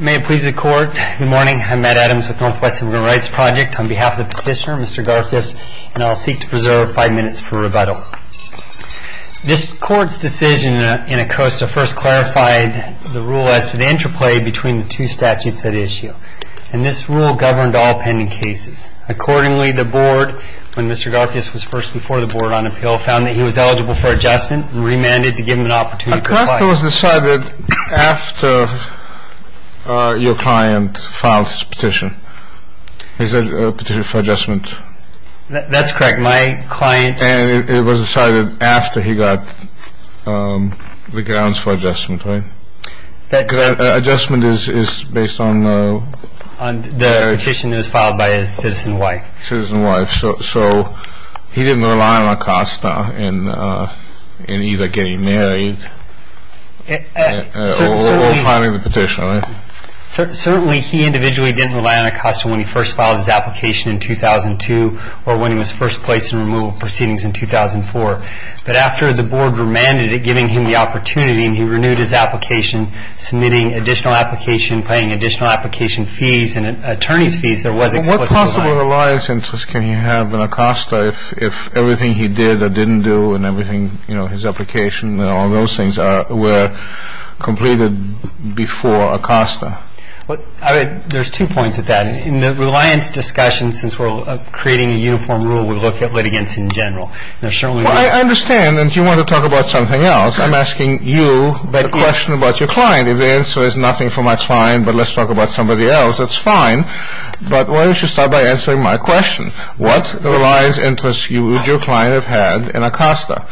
May it please the Court, good morning, I'm Matt Adams with Northwest Immigrant Rights Project. On behalf of the petitioner, Mr. Garfias, and I'll seek to preserve five minutes for rebuttal. This Court's decision in Acosta first clarified the rule as to the interplay between the two statutes at issue. And this rule governed all pending cases. Accordingly, the Board, when Mr. Garfias was first before the Board on appeal, found that he was eligible for adjustment and remanded to give him an opportunity to apply. So it was decided after your client filed his petition, his petition for adjustment? That's correct, my client... And it was decided after he got the grounds for adjustment, right? Adjustment is based on... The petition that was filed by his citizen wife. So he didn't rely on Acosta in either getting married or filing the petition, right? Certainly he individually didn't rely on Acosta when he first filed his application in 2002 or when he was first placed in removal proceedings in 2004. But after the Board remanded it, giving him the opportunity, and he renewed his application, submitting additional application, paying additional application fees and attorney's fees, there was explicit reliance. What possible reliance interest can he have in Acosta if everything he did or didn't do and everything, you know, his application and all those things were completed before Acosta? There's two points to that. In the reliance discussion, since we're creating a uniform rule, we look at litigants in general. There certainly are... Well, I understand, and you want to talk about something else. I'm asking you the question about your client. If the answer is nothing for my client, but let's talk about somebody else, that's fine. But why don't you start by answering my question? What reliance interest would your client have had in Acosta,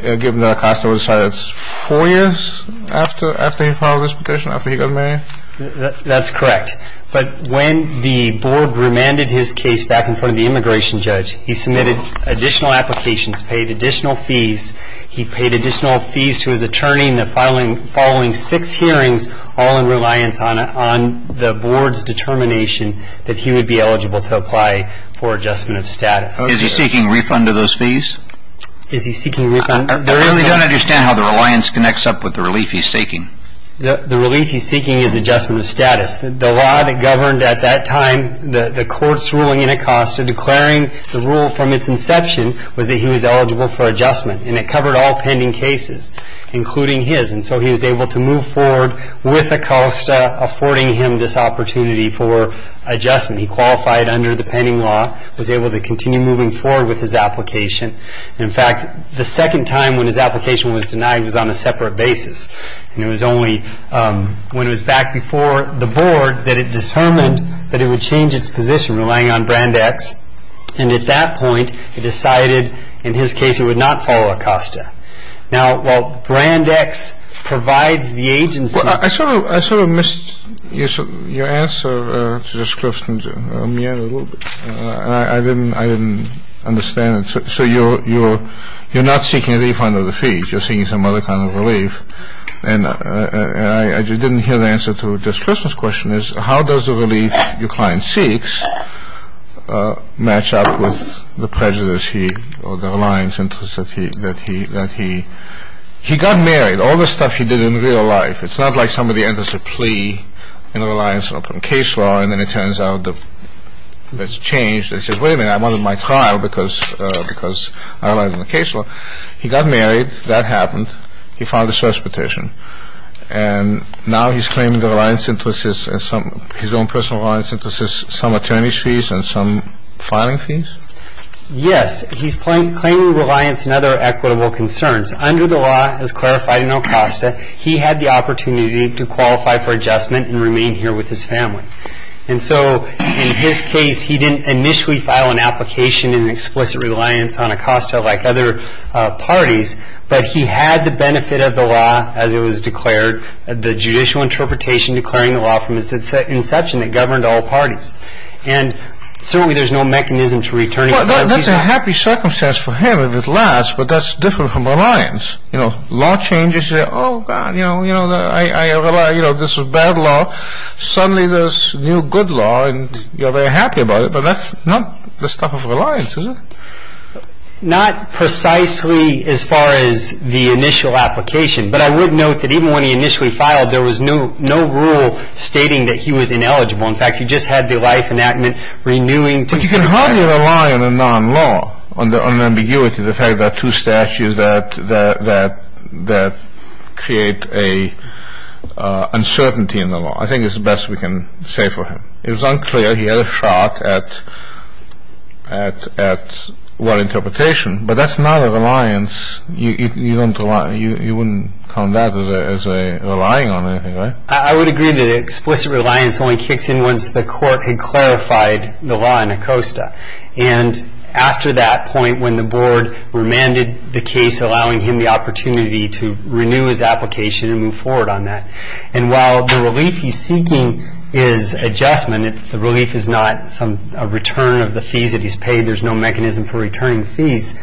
given that Acosta was decided four years after he filed his petition, after he got married? That's correct. But when the Board remanded his case back in front of the immigration judge, he submitted additional applications, paid additional fees. He paid additional fees to his attorney following six hearings, all in reliance on the Board's determination that he would be eligible to apply for adjustment of status. Is he seeking refund of those fees? Is he seeking refund? I really don't understand how the reliance connects up with the relief he's seeking. The relief he's seeking is adjustment of status. The law that governed at that time, the court's ruling in Acosta, declaring the rule from its inception was that he was eligible for adjustment, and it covered all pending cases, including his. And so he was able to move forward with Acosta, affording him this opportunity for adjustment. He qualified under the pending law, was able to continue moving forward with his application. In fact, the second time when his application was denied was on a separate basis. It was only when it was back before the Board that it determined that it would change its position, relying on Brand X. And at that point, it decided, in his case, it would not follow Acosta. Now, while Brand X provides the agency. Well, I sort of missed your answer to this question a little bit. I didn't understand it. So you're not seeking a refund of the fees. You're seeking some other kind of relief. And I didn't hear the answer to Judge Clifton's question, which is how does the relief your client seeks match up with the prejudice or the reliance interest that he. He got married. All the stuff he did in real life. It's not like somebody enters a plea in a reliance on a case law, and then it turns out that it's changed. They say, wait a minute, I wanted my trial because I relied on the case law. He got married. That happened. He filed a source petition. And now he's claiming the reliance interest, his own personal reliance interest, some attorney's fees and some filing fees. Yes. He's claiming reliance and other equitable concerns. Under the law, as clarified in Acosta, he had the opportunity to qualify for adjustment and remain here with his family. And so in his case, he didn't initially file an application in explicit reliance on Acosta like other parties. But he had the benefit of the law as it was declared, the judicial interpretation declaring the law from its inception that governed all parties. And certainly there's no mechanism to return it. Well, that's a happy circumstance for him if it lasts, but that's different from reliance. You know, law changes, you say, oh, God, you know, I rely, you know, this is bad law. Suddenly there's new good law, and, you know, they're happy about it. But that's not the stuff of reliance, is it? Not precisely as far as the initial application. But I would note that even when he initially filed, there was no rule stating that he was ineligible. In fact, you just had the life enactment renewing. But you can hardly rely on a non-law, on ambiguity, the fact that two statutes that create an uncertainty in the law. I think it's the best we can say for him. It was unclear. He had a shot at well interpretation. But that's not a reliance. You wouldn't count that as relying on anything, right? I would agree that explicit reliance only kicks in once the court had clarified the law in Acosta. And after that point, when the board remanded the case, allowing him the opportunity to renew his application and move forward on that. And while the relief he's seeking is adjustment, the relief is not a return of the fees that he's paid. There's no mechanism for returning fees.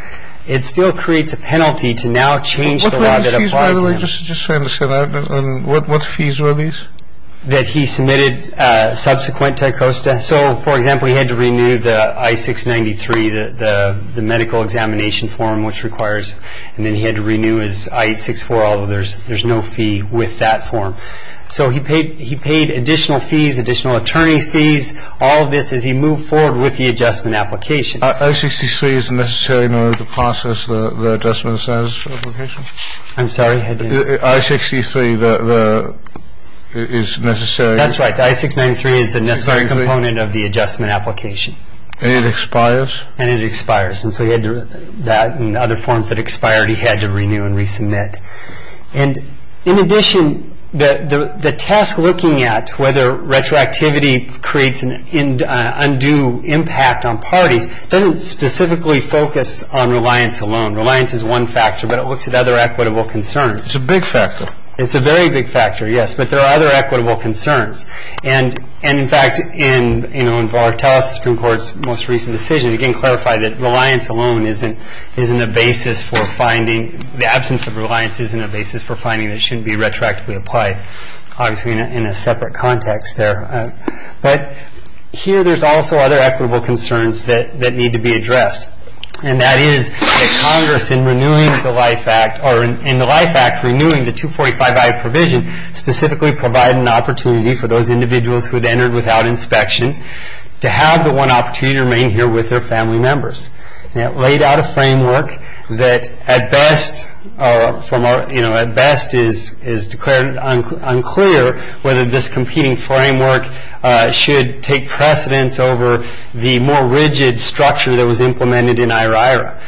It still creates a penalty to now change the law that applied to him. Just so I understand, what fees were these? That he submitted subsequent to Acosta. So, for example, he had to renew the I-693, the medical examination form which requires, and then he had to renew his I-864, although there's no fee with that form. So he paid additional fees, additional attorney's fees, all of this as he moved forward with the adjustment application. I-63 is necessary in order to process the adjustment application? I'm sorry? I-63 is necessary. That's right. The I-693 is the necessary component of the adjustment application. And it expires? And it expires. Yes, and so he had that and other forms that expired he had to renew and resubmit. And in addition, the test looking at whether retroactivity creates an undue impact on parties doesn't specifically focus on reliance alone. Reliance is one factor, but it looks at other equitable concerns. It's a big factor. It's a very big factor, yes, but there are other equitable concerns. And, in fact, in Volartales, the Supreme Court's most recent decision, again, clarified that reliance alone isn't a basis for finding, the absence of reliance isn't a basis for finding that it shouldn't be retroactively applied, obviously in a separate context there. But here there's also other equitable concerns that need to be addressed, and that is that Congress, in renewing the Life Act, or in the Life Act, renewing the 245-I provision specifically provided an opportunity for those individuals who had entered without inspection to have the one opportunity to remain here with their family members. And it laid out a framework that at best is declared unclear whether this competing framework should take precedence over the more rigid structure that was implemented in IRIRA.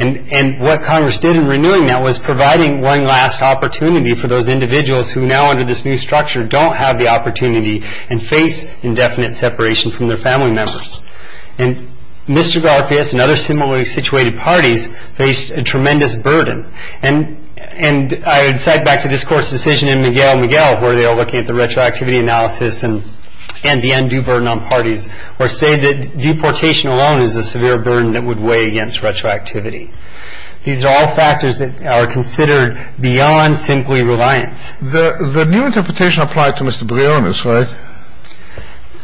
And what Congress did in renewing that was providing one last opportunity for those individuals who now, under this new structure, don't have the opportunity and face indefinite separation from their family members. And Mr. Garfias and other similarly situated parties faced a tremendous burden. And I would cite back to this Court's decision in Miguel Miguel, where they are looking at the retroactivity analysis and the undue burden on parties, or say that deportation alone is a severe burden that would weigh against retroactivity. These are all factors that are considered beyond simply reliance. The new interpretation applied to Mr. Brionis, right?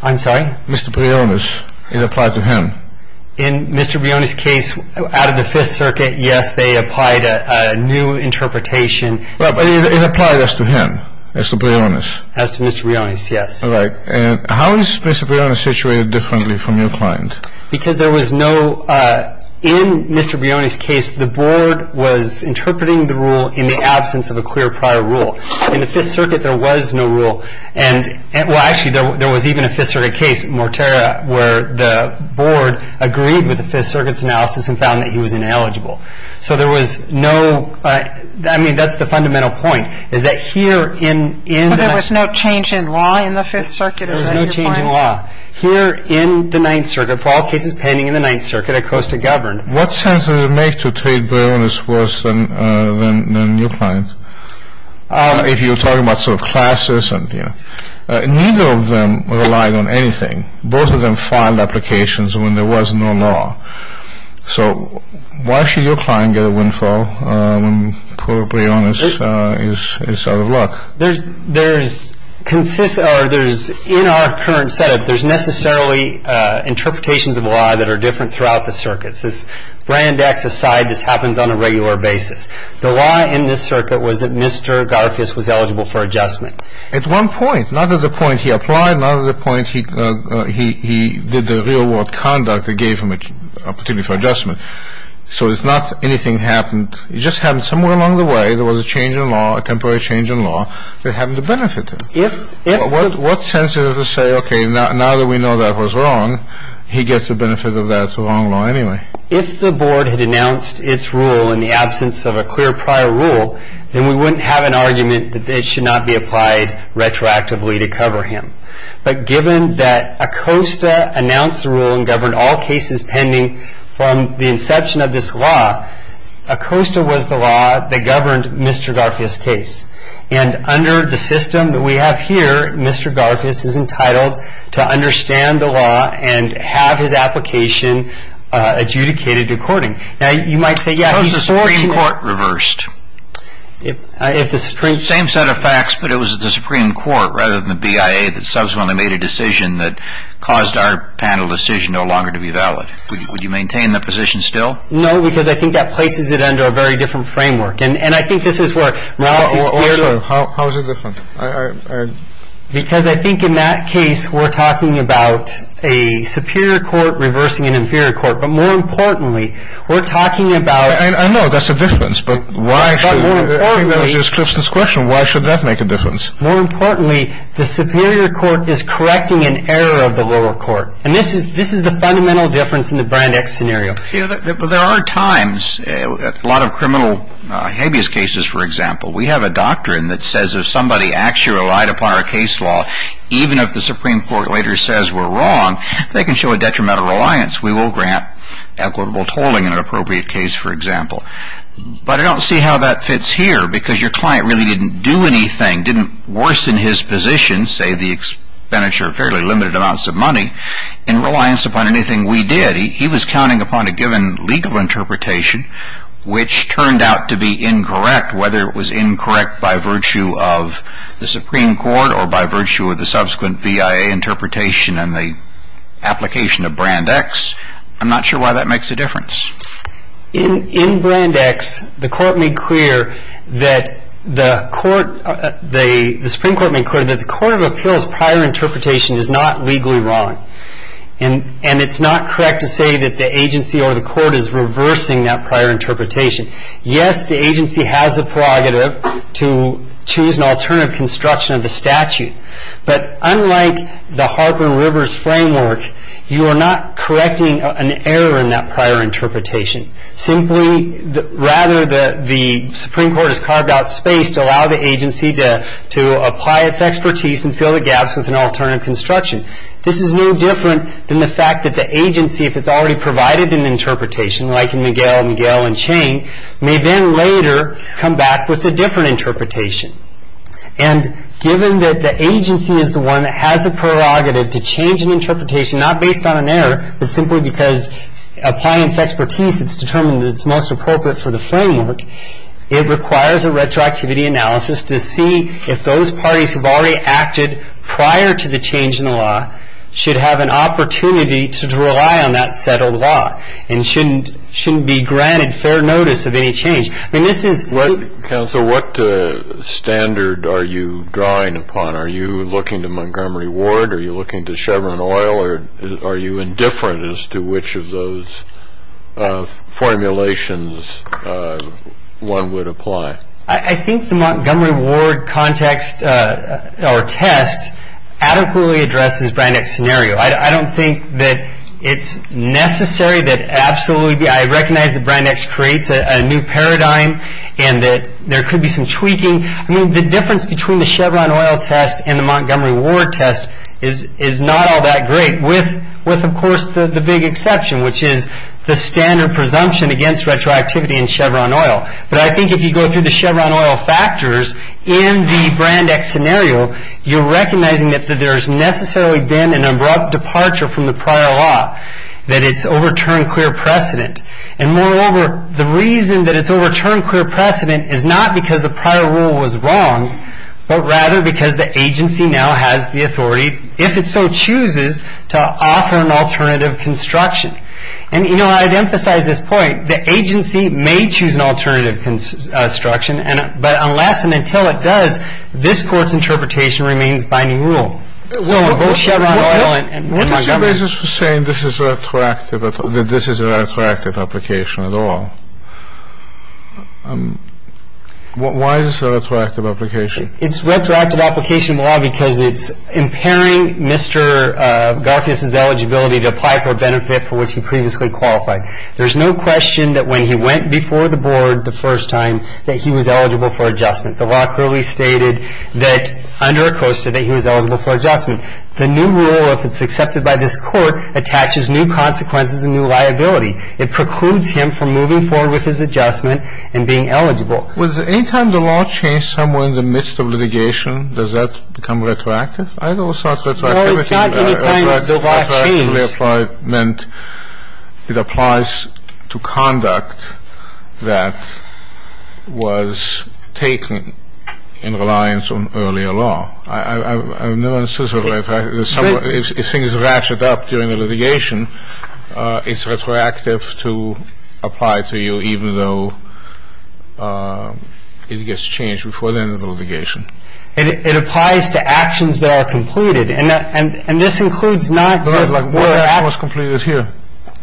I'm sorry? Mr. Brionis. It applied to him. In Mr. Brionis' case, out of the Fifth Circuit, yes, they applied a new interpretation. But it applied as to him, as to Brionis. As to Mr. Brionis, yes. All right. And how is Mr. Brionis situated differently from your client? Because there was no – in Mr. Brionis' case, the Board was interpreting the rule in the absence of a clear prior rule. In the Fifth Circuit, there was no rule. And – well, actually, there was even a Fifth Circuit case, Mortera, where the Board agreed with the Fifth Circuit's analysis and found that he was ineligible. So there was no – I mean, that's the fundamental point, is that here in – So there was no change in law in the Fifth Circuit? There was no change in law. Here in the Ninth Circuit, for all cases pending in the Ninth Circuit, Acosta governed. What sense does it make to treat Brionis worse than your client? If you're talking about sort of classes and – neither of them relied on anything. Both of them filed applications when there was no law. So why should your client get a windfall when poor Brionis is out of luck? There's – or there's – in our current setup, there's necessarily interpretations of law that are different throughout the circuits. As brand acts aside, this happens on a regular basis. The law in this circuit was that Mr. Garfious was eligible for adjustment. At one point – not at the point he applied, not at the point he did the real-world conduct that gave him a particular adjustment. So it's not anything happened. It just happened somewhere along the way. There was a change in law, a temporary change in law that happened to benefit him. If – What sense is it to say, okay, now that we know that was wrong, he gets the benefit of that wrong law anyway? If the Board had announced its rule in the absence of a clear prior rule, then we wouldn't have an argument that it should not be applied retroactively to cover him. But given that Acosta announced the rule and governed all cases pending from the inception of this law, Acosta was the law that governed Mr. Garfious' case. And under the system that we have here, Mr. Garfious is entitled to understand the law and have his application adjudicated according. Now, you might say, yeah, before – Suppose the Supreme Court reversed? If the Supreme – Same set of facts, but it was the Supreme Court rather than the BIA that subsequently made a decision that caused our panel decision no longer to be valid. Would you maintain that position still? No, because I think that places it under a very different framework. And I think this is where Morales is – Also, how is it different? Because I think in that case, we're talking about a superior court reversing an inferior court. But more importantly, we're talking about – I know that's a difference, but why – But more importantly – I think that just clips this question. Why should that make a difference? More importantly, the superior court is correcting an error of the lower court. And this is the fundamental difference in the Brand X scenario. See, there are times, a lot of criminal habeas cases, for example, we have a doctrine that says if somebody actually relied upon our case law, even if the Supreme Court later says we're wrong, they can show a detrimental reliance. We will grant equitable tolling in an appropriate case, for example. But I don't see how that fits here, because your client really didn't do anything, didn't worsen his position, save the expenditure of fairly limited amounts of money, in reliance upon anything we did. But he was counting upon a given legal interpretation, which turned out to be incorrect, whether it was incorrect by virtue of the Supreme Court or by virtue of the subsequent BIA interpretation and the application of Brand X. I'm not sure why that makes a difference. In Brand X, the Supreme Court made clear that the Court of Appeals' prior interpretation is not legally wrong. And it's not correct to say that the agency or the court is reversing that prior interpretation. Yes, the agency has the prerogative to choose an alternative construction of the statute. But unlike the Harper and Rivers framework, you are not correcting an error in that prior interpretation. Simply, rather, the Supreme Court has carved out space to allow the agency to apply its expertise and fill the gaps with an alternative construction. This is no different than the fact that the agency, if it's already provided an interpretation, like in McGill, McGill, and Chang, may then later come back with a different interpretation. And given that the agency is the one that has the prerogative to change an interpretation, not based on an error, but simply because applying its expertise, it's determined that it's most appropriate for the framework, it requires a retroactivity analysis to see if those parties have already acted prior to the change in the law, should have an opportunity to rely on that settled law, and shouldn't be granted fair notice of any change. I mean, this is what... Counselor, what standard are you drawing upon? Are you looking to Montgomery Ward? Are you looking to Chevron Oil? Or are you indifferent as to which of those formulations one would apply? I think the Montgomery Ward context or test adequately addresses Brand X's scenario. I don't think that it's necessary that absolutely... I recognize that Brand X creates a new paradigm and that there could be some tweaking. I mean, the difference between the Chevron Oil test and the Montgomery Ward test is not all that great, with, of course, the big exception, which is the standard presumption against retroactivity in Chevron Oil. But I think if you go through the Chevron Oil factors in the Brand X scenario, you're recognizing that there's necessarily been an abrupt departure from the prior law, that it's overturned clear precedent. And moreover, the reason that it's overturned clear precedent is not because the prior rule was wrong, but rather because the agency now has the authority, if it so chooses, to offer an alternative construction. And, you know, I'd emphasize this point. The agency may choose an alternative construction, but unless and until it does, this Court's interpretation remains binding rule. So both Chevron Oil and Montgomery... What is your basis for saying that this is a retroactive application at all? Why is this a retroactive application? It's retroactive application law because it's impairing Mr. Garfious's eligibility to apply for a benefit for which he previously qualified. There's no question that when he went before the Board the first time that he was eligible for adjustment. The law clearly stated that under ACOSTA that he was eligible for adjustment. The new rule, if it's accepted by this Court, attaches new consequences and new liability. It precludes him from moving forward with his adjustment and being eligible. Was any time the law changed somewhere in the midst of litigation, does that become retroactive? I know it's not retroactive. No, it's not any time the law changed. Retroactively applied meant it applies to conduct that was taken in reliance on earlier law. I've never understood retroactive. If things ratchet up during the litigation, it's retroactive to apply to you even though it gets changed before the end of the litigation. It applies to actions that are completed. And this includes not just... What was completed here?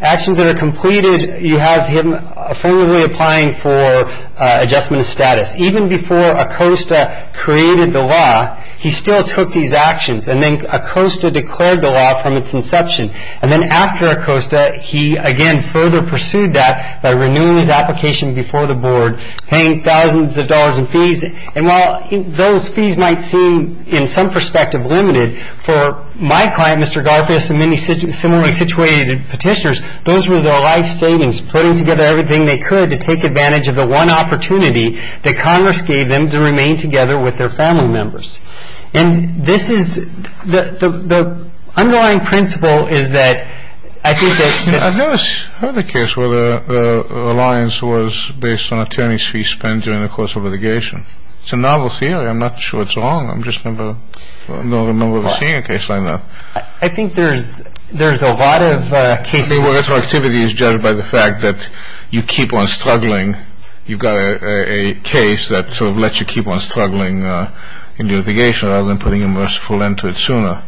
Actions that are completed, you have him formally applying for adjustment of status. Even before ACOSTA created the law, he still took these actions. And then ACOSTA declared the law from its inception. And then after ACOSTA, he, again, further pursued that by renewing his application before the Board, paying thousands of dollars in fees. And while those fees might seem, in some perspective, limited, for my client, Mr. Garfield, and many similarly situated petitioners, those were their life savings, putting together everything they could to take advantage of the one opportunity that Congress gave them to remain together with their family members. And this is the underlying principle is that I think that... I've never heard the case where the reliance was based on attorney's fees spent during the course of litigation. It's a novel theory. I'm not sure it's wrong. I'm just not a member of a senior case like that. I think there's a lot of cases... I think retroactivity is judged by the fact that you keep on struggling. You've got a case that sort of lets you keep on struggling in litigation rather than putting a merciful end to it sooner.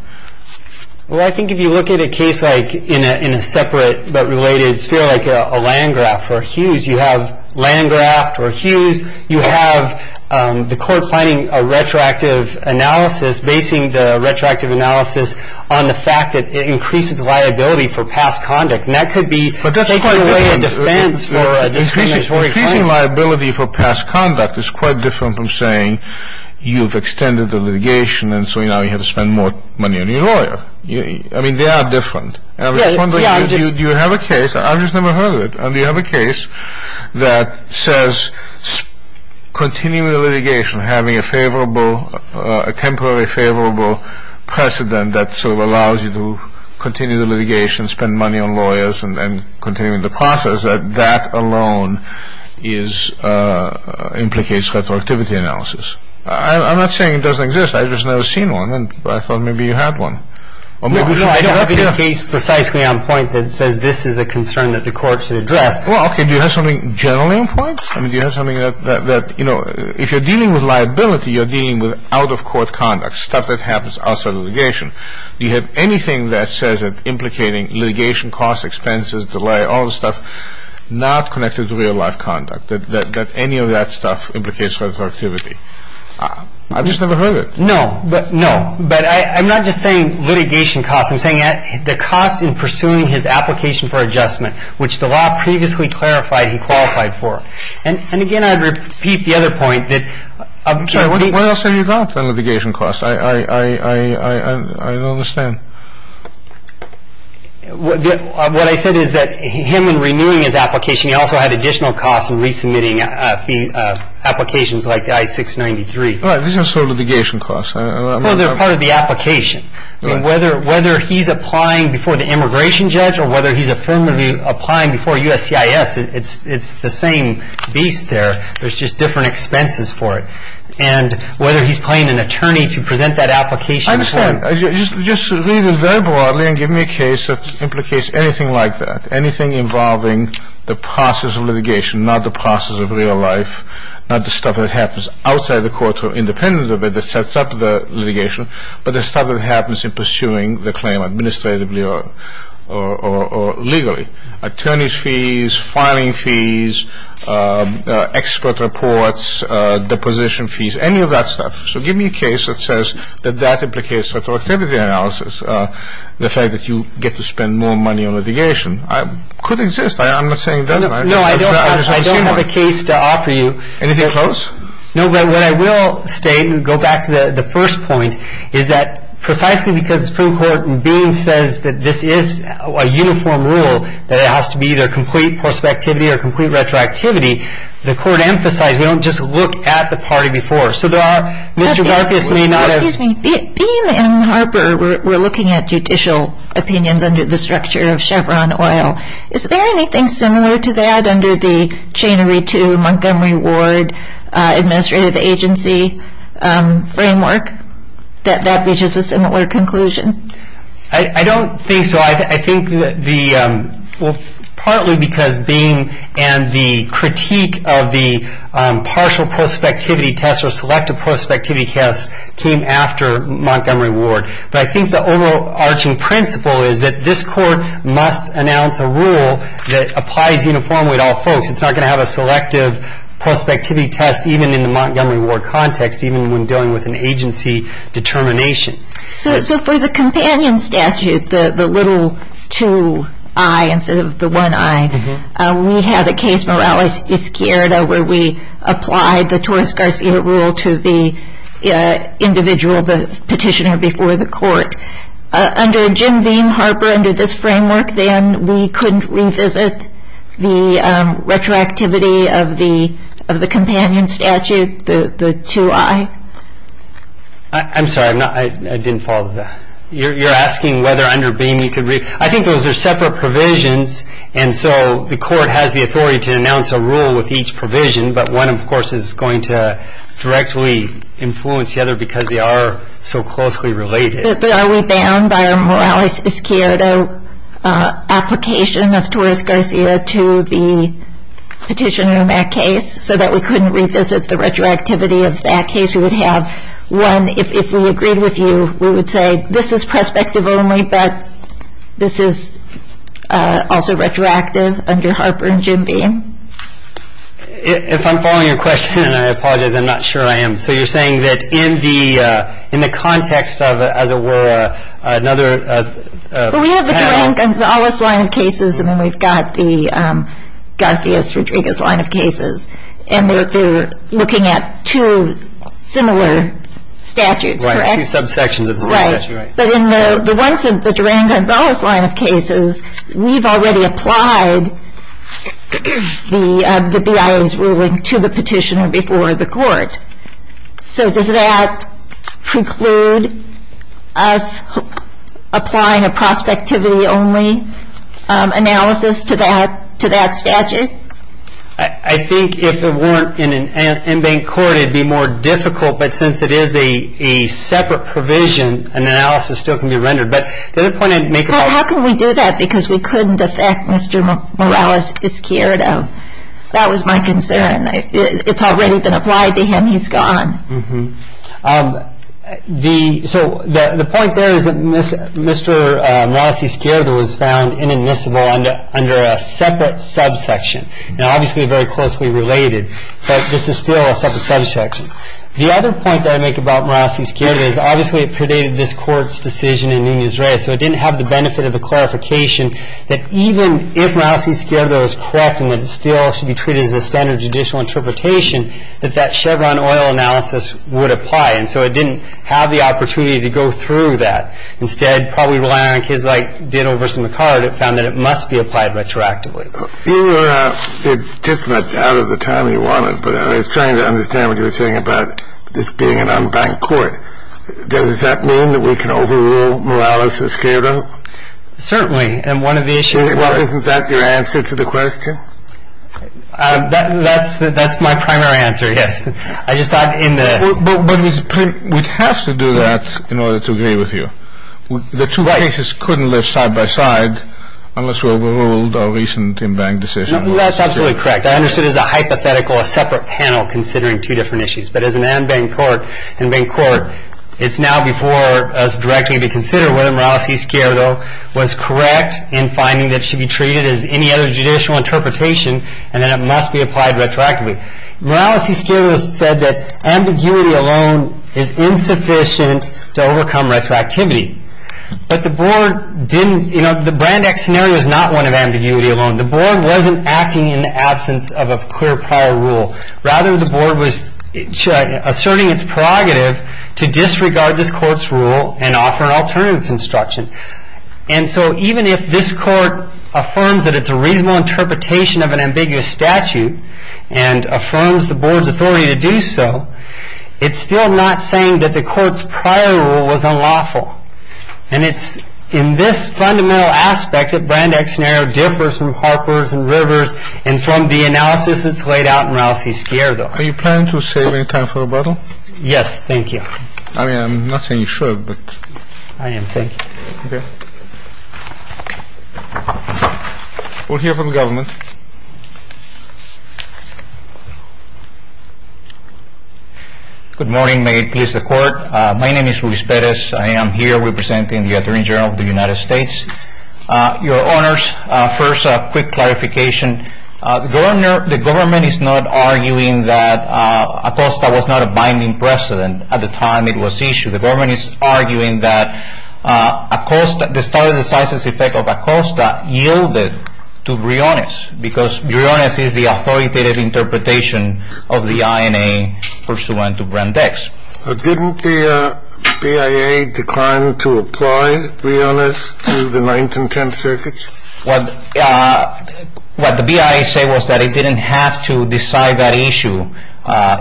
Well, I think if you look at a case like in a separate but related sphere, like a Landgraft or Hughes, you have Landgraft or Hughes, you have the court planning a retroactive analysis, basing the retroactive analysis on the fact that it increases liability for past conduct. And that could be... Increasing liability for past conduct is quite different from saying you've extended the litigation and so now you have to spend more money on your lawyer. I mean, they are different. You have a case. I've just never heard of it. And you have a case that says continuing the litigation, having a favorable... a temporary favorable precedent that sort of allows you to continue the litigation, spend money on lawyers and continue the process, that that alone implicates retroactivity analysis. I'm not saying it doesn't exist. I've just never seen one and I thought maybe you had one. No, I have a case precisely on point that says this is a concern that the court should address. Well, okay, do you have something generally on point? I mean, do you have something that, you know, if you're dealing with liability, you're dealing with out-of-court conduct, stuff that happens outside litigation. Do you have anything that says that implicating litigation costs, expenses, delay, all this stuff, not connected to real-life conduct, that any of that stuff implicates retroactivity? I've just never heard of it. No, but no. But I'm not just saying litigation costs. I'm saying the costs in pursuing his application for adjustment, which the law previously clarified he qualified for. And again, I'd repeat the other point that... I'm sorry, what else have you got on litigation costs? I don't understand. What I said is that him in renewing his application, he also had additional costs in resubmitting applications like I-693. Right. These are sort of litigation costs. Well, they're part of the application. I mean, whether he's applying before the immigration judge or whether he's affirmatively applying before USCIS, it's the same beast there. There's just different expenses for it. And whether he's paying an attorney to present that application... I understand. Just read it very broadly and give me a case that implicates anything like that, anything involving the process of litigation, not the process of real life, not the stuff that happens outside the court or independent of it that sets up the litigation, but the stuff that happens in pursuing the claim administratively or legally. Attorney's fees, filing fees, expert reports, deposition fees, any of that stuff. So give me a case that says that that implicates retroactivity analysis, the fact that you get to spend more money on litigation. It could exist. I'm not saying it doesn't. No, I don't have a case to offer you. Anything close? No, but what I will state, and go back to the first point, is that precisely because the Supreme Court in Beam says that this is a uniform rule, that it has to be either complete prospectivity or complete retroactivity, the court emphasized we don't just look at the party before. So there are... Excuse me. Beam and Harper were looking at judicial opinions under the structure of Chevron Oil. Is there anything similar to that under the chainery to Montgomery Ward administrative agency framework that reaches a similar conclusion? I don't think so. I think partly because Beam and the critique of the partial prospectivity test or selective prospectivity test came after Montgomery Ward. But I think the overarching principle is that this court must announce a rule that applies uniformly to all folks. It's not going to have a selective prospectivity test even in the Montgomery Ward context, even when dealing with an agency determination. So for the companion statute, the little 2i instead of the 1i, we have a case, Morales-Izquierda, where we applied the Torres-Garcia rule to the individual petitioner before the court. Under Jim Beam, Harper, under this framework, then we couldn't revisit the retroactivity of the companion statute, the 2i. I'm sorry. I didn't follow that. You're asking whether under Beam you could... I think those are separate provisions, and so the court has the authority to announce a rule with each provision, but one, of course, is going to directly influence the other because they are so closely related. But are we bound by a Morales-Izquierda application of Torres-Garcia to the petitioner in that case so that we couldn't revisit the retroactivity of that case? We would have one, if we agreed with you, we would say, This is perspective only, but this is also retroactive under Harper and Jim Beam. If I'm following your question, and I apologize, I'm not sure I am, so you're saying that in the context of, as it were, another panel... Well, we have the Juan Gonzalez line of cases, and then we've got the Garcias-Rodriguez line of cases, and they're looking at two similar statutes, correct? Two subsections of the same statute. Right. But in the Juan Gonzalez line of cases, we've already applied the BIA's ruling to the petitioner before the court. So does that preclude us applying a prospectivity-only analysis to that statute? I think if it weren't in an in-bank court, it would be more difficult, but since it is a separate provision, an analysis still can be rendered. But the other point I'd make about... How can we do that because we couldn't affect Mr. Morales-Izquierdo? That was my concern. It's already been applied to him. He's gone. So the point there is that Mr. Morales-Izquierdo was found inadmissible under a separate subsection. Now, obviously, they're very closely related, but this is still a separate subsection. The other point that I make about Morales-Izquierdo is, obviously, it predated this Court's decision in Nunez-Reyes, so it didn't have the benefit of a clarification that even if Morales-Izquierdo was correct and that it still should be treated as a standard judicial interpretation, that that Chevron oil analysis would apply. And so it didn't have the opportunity to go through that. Instead, probably relying on kids like Ditto versus McCard, it found that it must be applied retroactively. You were just out of the timing you wanted, but I was trying to understand what you were saying about this being an unbanked Court. Does that mean that we can overrule Morales-Izquierdo? Certainly. And one of the issues was — Isn't that your answer to the question? That's my primary answer, yes. I just thought in the — But we'd have to do that in order to agree with you. Right. The two cases couldn't lift side by side unless we overruled a recent unbanked decision. That's absolutely correct. I understood it as a hypothetical, a separate panel considering two different issues. But as an unbanked Court, it's now before us directly to consider whether Morales-Izquierdo was correct in finding that it should be treated as any other judicial interpretation and that it must be applied retroactively. Morales-Izquierdo said that ambiguity alone is insufficient to overcome retroactivity. But the Board didn't — The Brandeis scenario is not one of ambiguity alone. The Board wasn't acting in the absence of a clear prior rule. Rather, the Board was asserting its prerogative to disregard this Court's rule and offer an alternative construction. And so even if this Court affirms that it's a reasonable interpretation of an ambiguous statute and affirms the Board's authority to do so, it's still not saying that the Court's prior rule was unlawful. And it's in this fundamental aspect that Brandeis scenario differs from Harper's and Rivers and from the analysis that's laid out in Morales-Izquierdo. Are you planning to save any time for rebuttal? Yes. Thank you. I mean, I'm not saying you should, but — I am. Thank you. Okay. We'll hear from the government. Good morning. May it please the Court. My name is Luis Perez. I am here representing the Attorney General of the United States. Your Honors, first, a quick clarification. The government is not arguing that ACOSTA was not a binding precedent at the time it was issued. The government is arguing that ACOSTA — the study of the size and effect of ACOSTA yielded to Briones, because Briones is the authoritative interpretation of the INA pursuant to Brandeis. Didn't the BIA decline to apply Briones to the Ninth and Tenth Circuits? What the BIA said was that it didn't have to decide that issue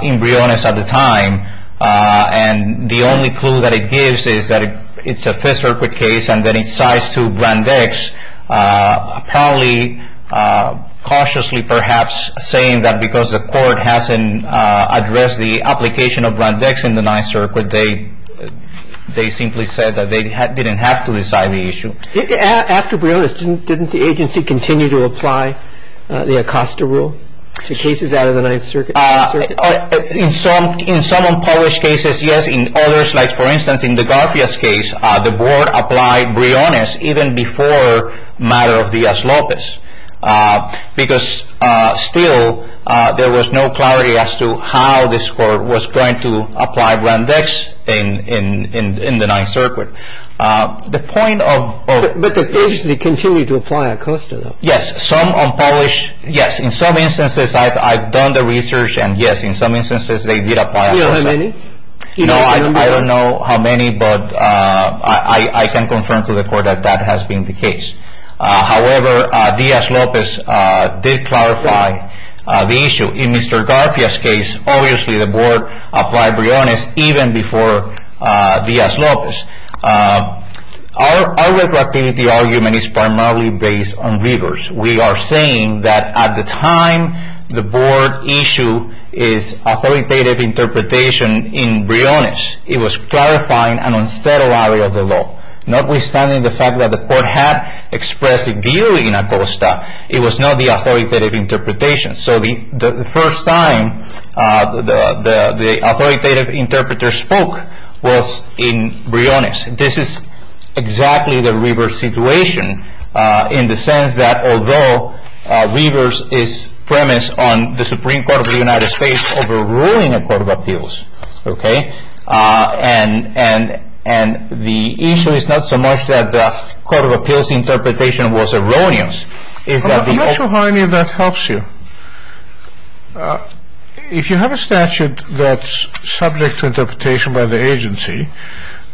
in Briones at the time, and the only clue that it gives is that it's a Fifth Circuit case, and then it cites to Brandeis, probably cautiously, perhaps, saying that because the Court hasn't addressed the application of Brandeis in the Ninth Circuit, they simply said that they didn't have to decide the issue. After Briones, didn't the agency continue to apply the ACOSTA rule to cases out of the Ninth Circuit? In some unpublished cases, yes. In other slides, for instance, in the Garfias case, the Board applied Briones even before matter of Diaz-Lopez, because still there was no clarity as to how this Court was going to apply Brandeis in the Ninth Circuit. The point of — But the agency continued to apply ACOSTA, though. Yes. Some unpublished — yes. In some instances, I've done the research, and yes, in some instances, they did apply ACOSTA. Do you know how many? No, I don't know how many, but I can confirm to the Court that that has been the case. However, Diaz-Lopez did clarify the issue. In Mr. Garfias' case, obviously, the Board applied Briones even before Diaz-Lopez. Our reflectivity argument is primarily based on rigors. We are saying that at the time the Board issued its authoritative interpretation in Briones, it was clarifying an unsettled area of the law. Notwithstanding the fact that the Court had expressed a view in ACOSTA, it was not the authoritative interpretation. So the first time the authoritative interpreter spoke was in Briones. This is exactly the reverse situation in the sense that although reverse is premise on the Supreme Court of the United States overruling a court of appeals, okay, and the issue is not so much that the court of appeals interpretation was erroneous. I'm not sure how any of that helps you. If you have a statute that's subject to interpretation by the agency,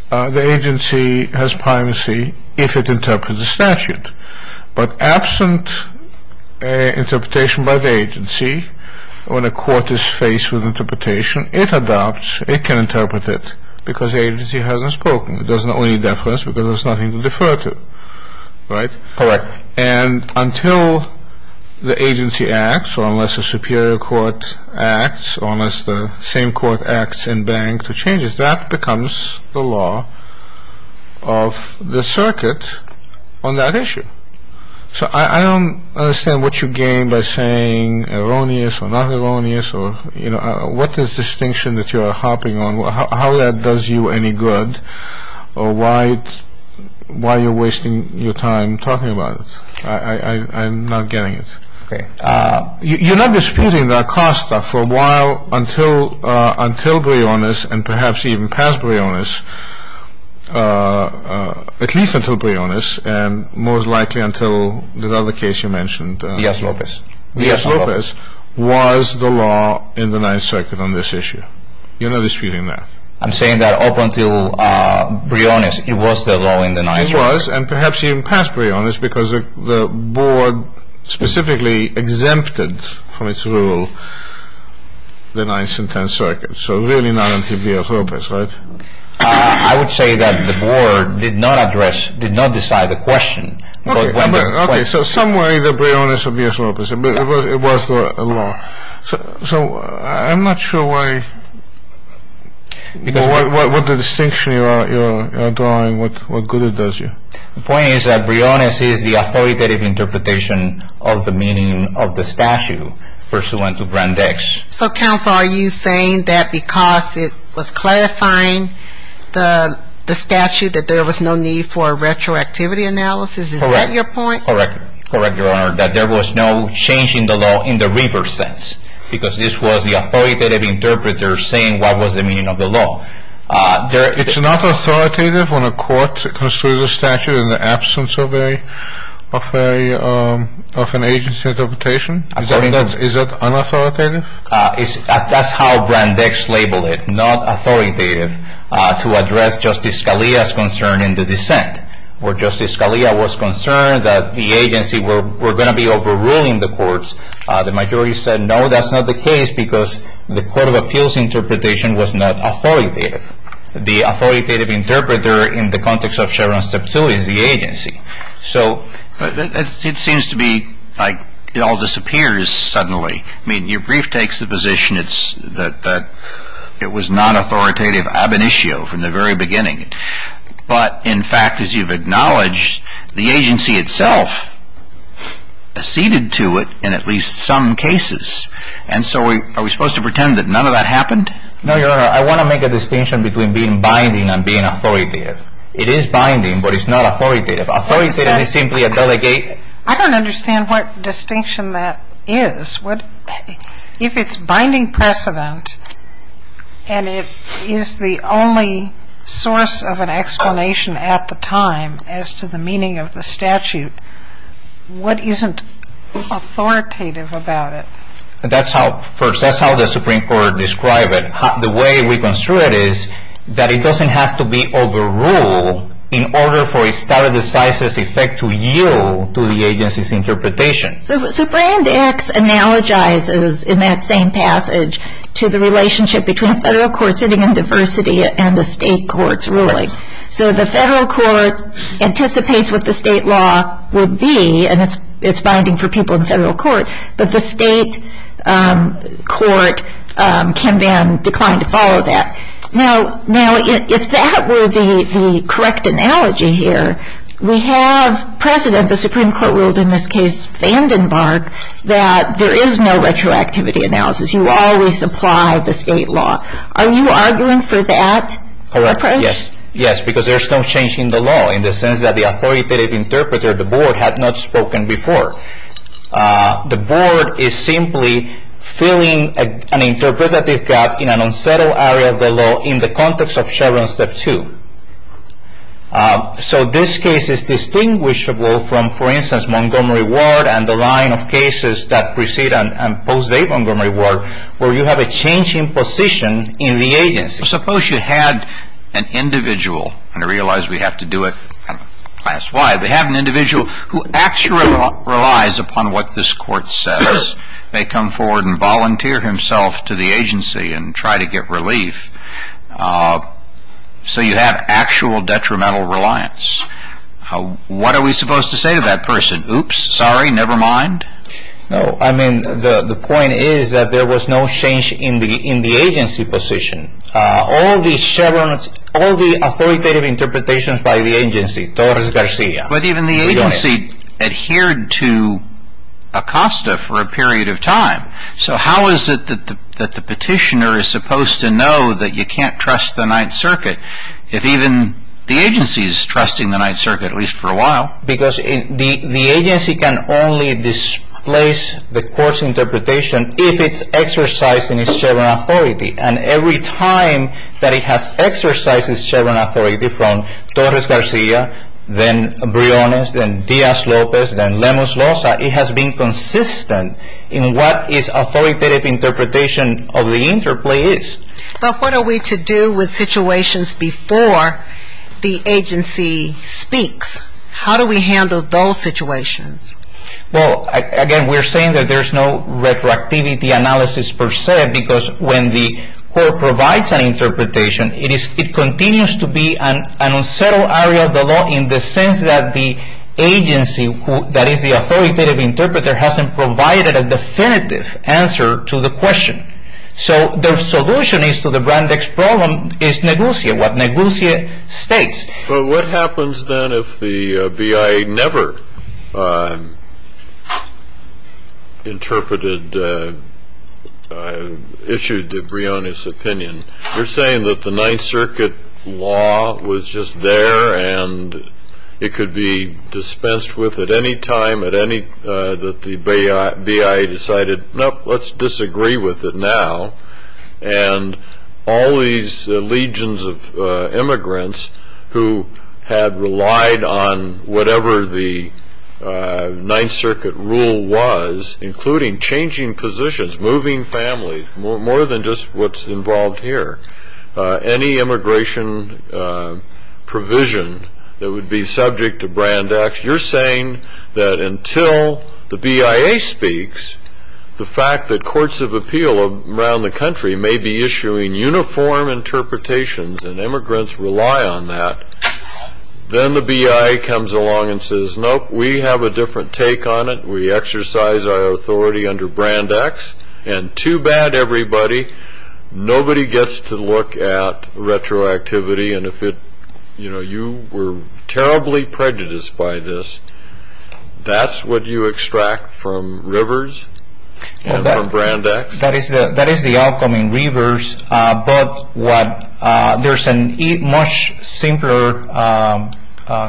the agency has primacy if it interprets the statute. But absent interpretation by the agency, when a court is faced with interpretation, it adopts, it can interpret it because the agency hasn't spoken. It doesn't owe any deference because there's nothing to defer to. Right? Correct. And until the agency acts, or unless a superior court acts, or unless the same court acts in bank to change it, that becomes the law of the circuit on that issue. So I don't understand what you gain by saying erroneous or not erroneous or, you know, what is the distinction that you are harping on? How that does you any good or why you're wasting your time talking about it? I'm not getting it. Okay. You're not disputing the Acosta for a while until Briones and perhaps even past Briones, at least until Briones and most likely until the other case you mentioned. Diaz-Lopez. Diaz-Lopez was the law in the Ninth Circuit on this issue. You're not disputing that. I'm saying that up until Briones, it was the law in the Ninth Circuit. It was, and perhaps even past Briones because the board specifically exempted from its rule the Ninth and Tenth Circuits. So really not until Diaz-Lopez, right? I would say that the board did not address, did not decide the question. Okay. So somewhere either Briones or Diaz-Lopez, but it was the law. So I'm not sure why, what the distinction you are drawing, what good it does you. The point is that Briones is the authoritative interpretation of the meaning of the statute pursuant to Brand X. So, counsel, are you saying that because it was clarifying the statute, that there was no need for a retroactivity analysis? Is that your point? Correct. Correct, Your Honor, that there was no change in the law in the reverse sense because this was the authoritative interpreter saying what was the meaning of the law. It's not authoritative when a court construes a statute in the absence of an agency interpretation? Is that unauthoritative? That's how Brand X labeled it, not authoritative, to address Justice Scalia's concern in the dissent. Where Justice Scalia was concerned that the agency were going to be overruling the courts, the majority said no, that's not the case because the court of appeals interpretation was not authoritative. The authoritative interpreter in the context of Chevron Step 2 is the agency. So it seems to be like it all disappears suddenly. I mean, your brief takes the position that it was not authoritative ab initio from the very beginning. But, in fact, as you've acknowledged, the agency itself acceded to it in at least some cases. And so are we supposed to pretend that none of that happened? No, Your Honor. I want to make a distinction between being binding and being authoritative. It is binding, but it's not authoritative. Authoritative is simply a delegate. I don't understand what distinction that is. If it's binding precedent and it is the only source of an explanation at the time as to the meaning of the statute, what isn't authoritative about it? That's how the Supreme Court described it. The way we construe it is that it doesn't have to be overruled in order for it to have a decisive effect to yield to the agency's interpretation. So Brand X analogizes in that same passage to the relationship between a federal court sitting in diversity and a state court's ruling. So the federal court anticipates what the state law would be, and it's binding for people in federal court, but the state court can then decline to follow that. Now, if that were the correct analogy here, we have precedent, the Supreme Court ruled in this case Vandenberg, that there is no retroactivity analysis. You always apply the state law. Are you arguing for that approach? Yes, because there's no change in the law in the sense that the authoritative interpreter, the board, had not spoken before. The board is simply filling an interpretative gap in an unsettled area of the law in the context of Chevron Step 2. So this case is distinguishable from, for instance, Montgomery Ward and the line of cases that precede and postdate Montgomery Ward, where you have a change in position in the agency. Suppose you had an individual, and I realize we have to do it class-wide, but have an individual who actually relies upon what this court says. They come forward and volunteer himself to the agency and try to get relief. So you have actual detrimental reliance. What are we supposed to say to that person? Oops, sorry, never mind? No, I mean, the point is that there was no change in the agency position. All the authoritative interpretations by the agency, Torres-Garcia, we don't have. But even the agency adhered to ACOSTA for a period of time. So how is it that the petitioner is supposed to know that you can't trust the Ninth Circuit if even the agency is trusting the Ninth Circuit, at least for a while? Because the agency can only displace the court's interpretation if it's exercising its Chevron authority. And every time that it has exercised its Chevron authority from Torres-Garcia, then Briones, then Diaz-Lopez, then Lemus-Losa, it has been consistent in what its authoritative interpretation of the interplay is. But what are we to do with situations before the agency speaks? How do we handle those situations? Well, again, we're saying that there's no retroactivity analysis per se, because when the court provides an interpretation, it continues to be an unsettled area of the law in the sense that the agency, that is the authoritative interpreter, hasn't provided a definitive answer to the question. So the solution is to the brand-next problem is negotiate what negotiate states. But what happens then if the BIA never interpreted, issued the Briones opinion? You're saying that the Ninth Circuit law was just there and it could be dispensed with at any time, that the BIA decided, nope, let's disagree with it now, and all these legions of immigrants who had relied on whatever the Ninth Circuit rule was, including changing positions, moving families, more than just what's involved here, any immigration provision that would be subject to brand-next, you're saying that until the BIA speaks, the fact that courts of appeal around the country may be issuing uniform interpretations and immigrants rely on that, then the BIA comes along and says, nope, we have a different take on it, we exercise our authority under brand-next, and too bad, everybody, nobody gets to look at retroactivity, and if you were terribly prejudiced by this, that's what you extract from rivers and from brand-next? That is the outcome in rivers, but there's a much simpler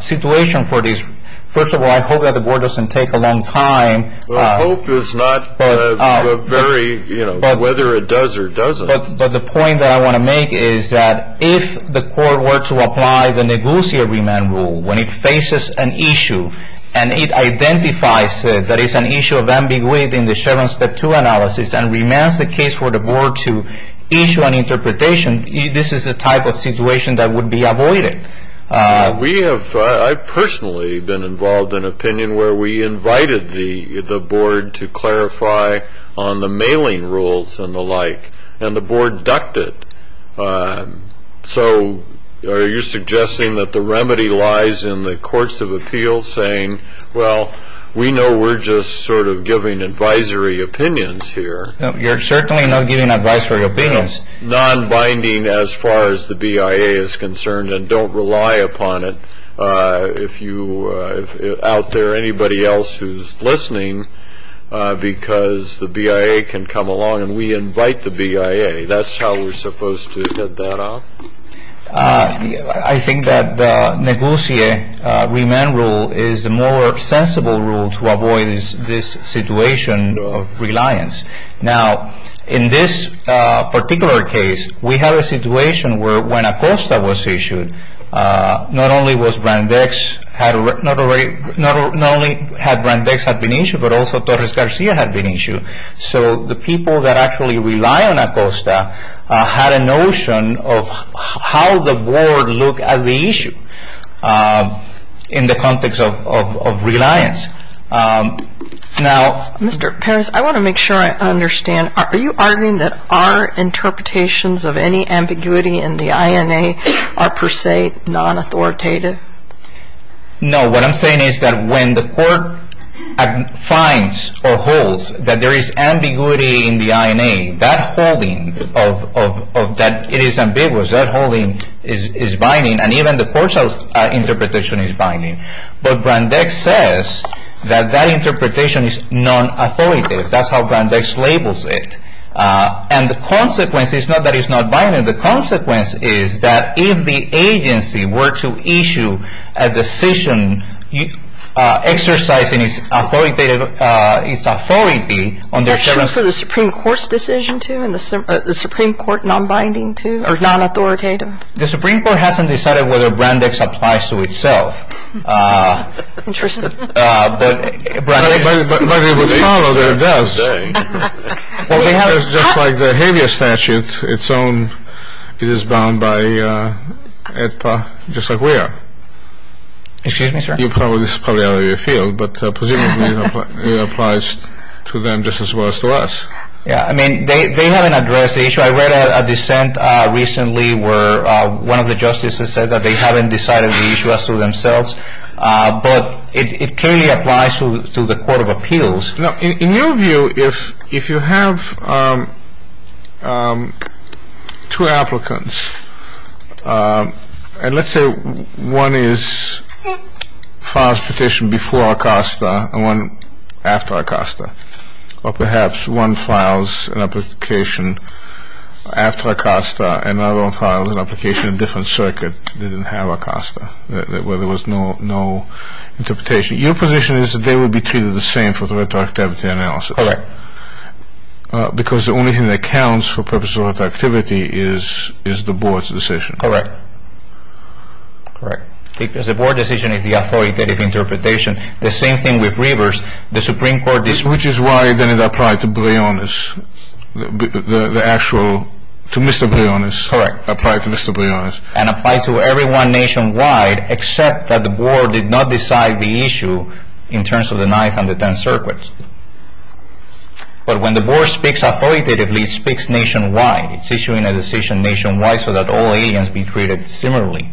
situation for this. First of all, I hope that the board doesn't take a long time. Well, hope is not whether it does or doesn't. But the point that I want to make is that if the court were to apply the negotiated remand rule, when it faces an issue and it identifies that it's an issue of ambiguity in the Chevron Step 2 analysis and remands the case for the board to issue an interpretation, this is the type of situation that would be avoided. I've personally been involved in an opinion where we invited the board to clarify on the mailing rules and the like, and the board ducked it. So are you suggesting that the remedy lies in the courts of appeals saying, well, we know we're just sort of giving advisory opinions here? You're certainly not giving advisory opinions. Non-binding as far as the BIA is concerned, and don't rely upon it. If you out there, anybody else who's listening, because the BIA can come along and we invite the BIA. That's how we're supposed to get that off. I think that the negotiated remand rule is a more sensible rule to avoid this situation of reliance. Now, in this particular case, we have a situation where when ACOSTA was issued, not only had Brandeis had been issued, but also Torres Garcia had been issued. So the people that actually rely on ACOSTA had a notion of how the board looked at the issue in the context of reliance. Now- Mr. Perez, I want to make sure I understand. Are you arguing that our interpretations of any ambiguity in the INA are per se non-authoritative? No. What I'm saying is that when the court finds or holds that there is ambiguity in the INA, that holding of that it is ambiguous, that holding is binding. And even the court's interpretation is binding. But Brandeis says that that interpretation is non-authoritative. That's how Brandeis labels it. And the consequence is not that it's not binding. The consequence is that if the agency were to issue a decision exercising its authority- That's true for the Supreme Court's decision too, and the Supreme Court non-binding too, or non-authoritative? The Supreme Court hasn't decided whether Brandeis applies to itself. Interesting. But Brandeis- But it would follow that it does. Just like the HALIA statute, it is bound by AEDPA just like we are. Excuse me, sir? This is probably out of your field, but presumably it applies to them just as well as to us. Yeah, I mean, they haven't addressed the issue. I read a dissent recently where one of the justices said that they haven't decided the issue as to themselves. But it clearly applies to the court of appeals. Now, in your view, if you have two applicants, and let's say one is files petition before ACOSTA and one after ACOSTA, or perhaps one files an application after ACOSTA and the other one files an application in a different circuit, they didn't have ACOSTA, where there was no interpretation. Your position is that they would be treated the same for the retroactivity analysis. Correct. Because the only thing that counts for the purpose of retroactivity is the board's decision. Correct. Correct. Because the board decision is the authoritative interpretation. The same thing with Rivers. Which is why then it applied to Briones, the actual, to Mr. Briones. Correct. Applied to Mr. Briones. And applied to everyone nationwide except that the board did not decide the issue in terms of the Ninth and the Tenth Circuits. But when the board speaks authoritatively, it speaks nationwide. It's issuing a decision nationwide so that all aliens be treated similarly.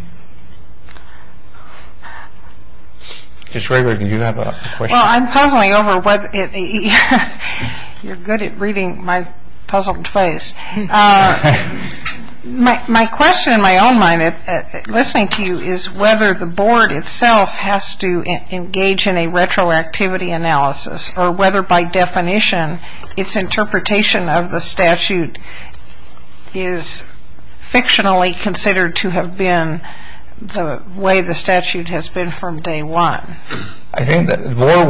Ms. Rayburg, do you have a question? Well, I'm puzzling over whether it, you're good at reading my puzzled face. My question in my own mind, listening to you, is whether the board itself has to engage in a retroactivity analysis, or whether by definition its interpretation of the statute is fictionally considered to have been the way the statute has been from day one. I think that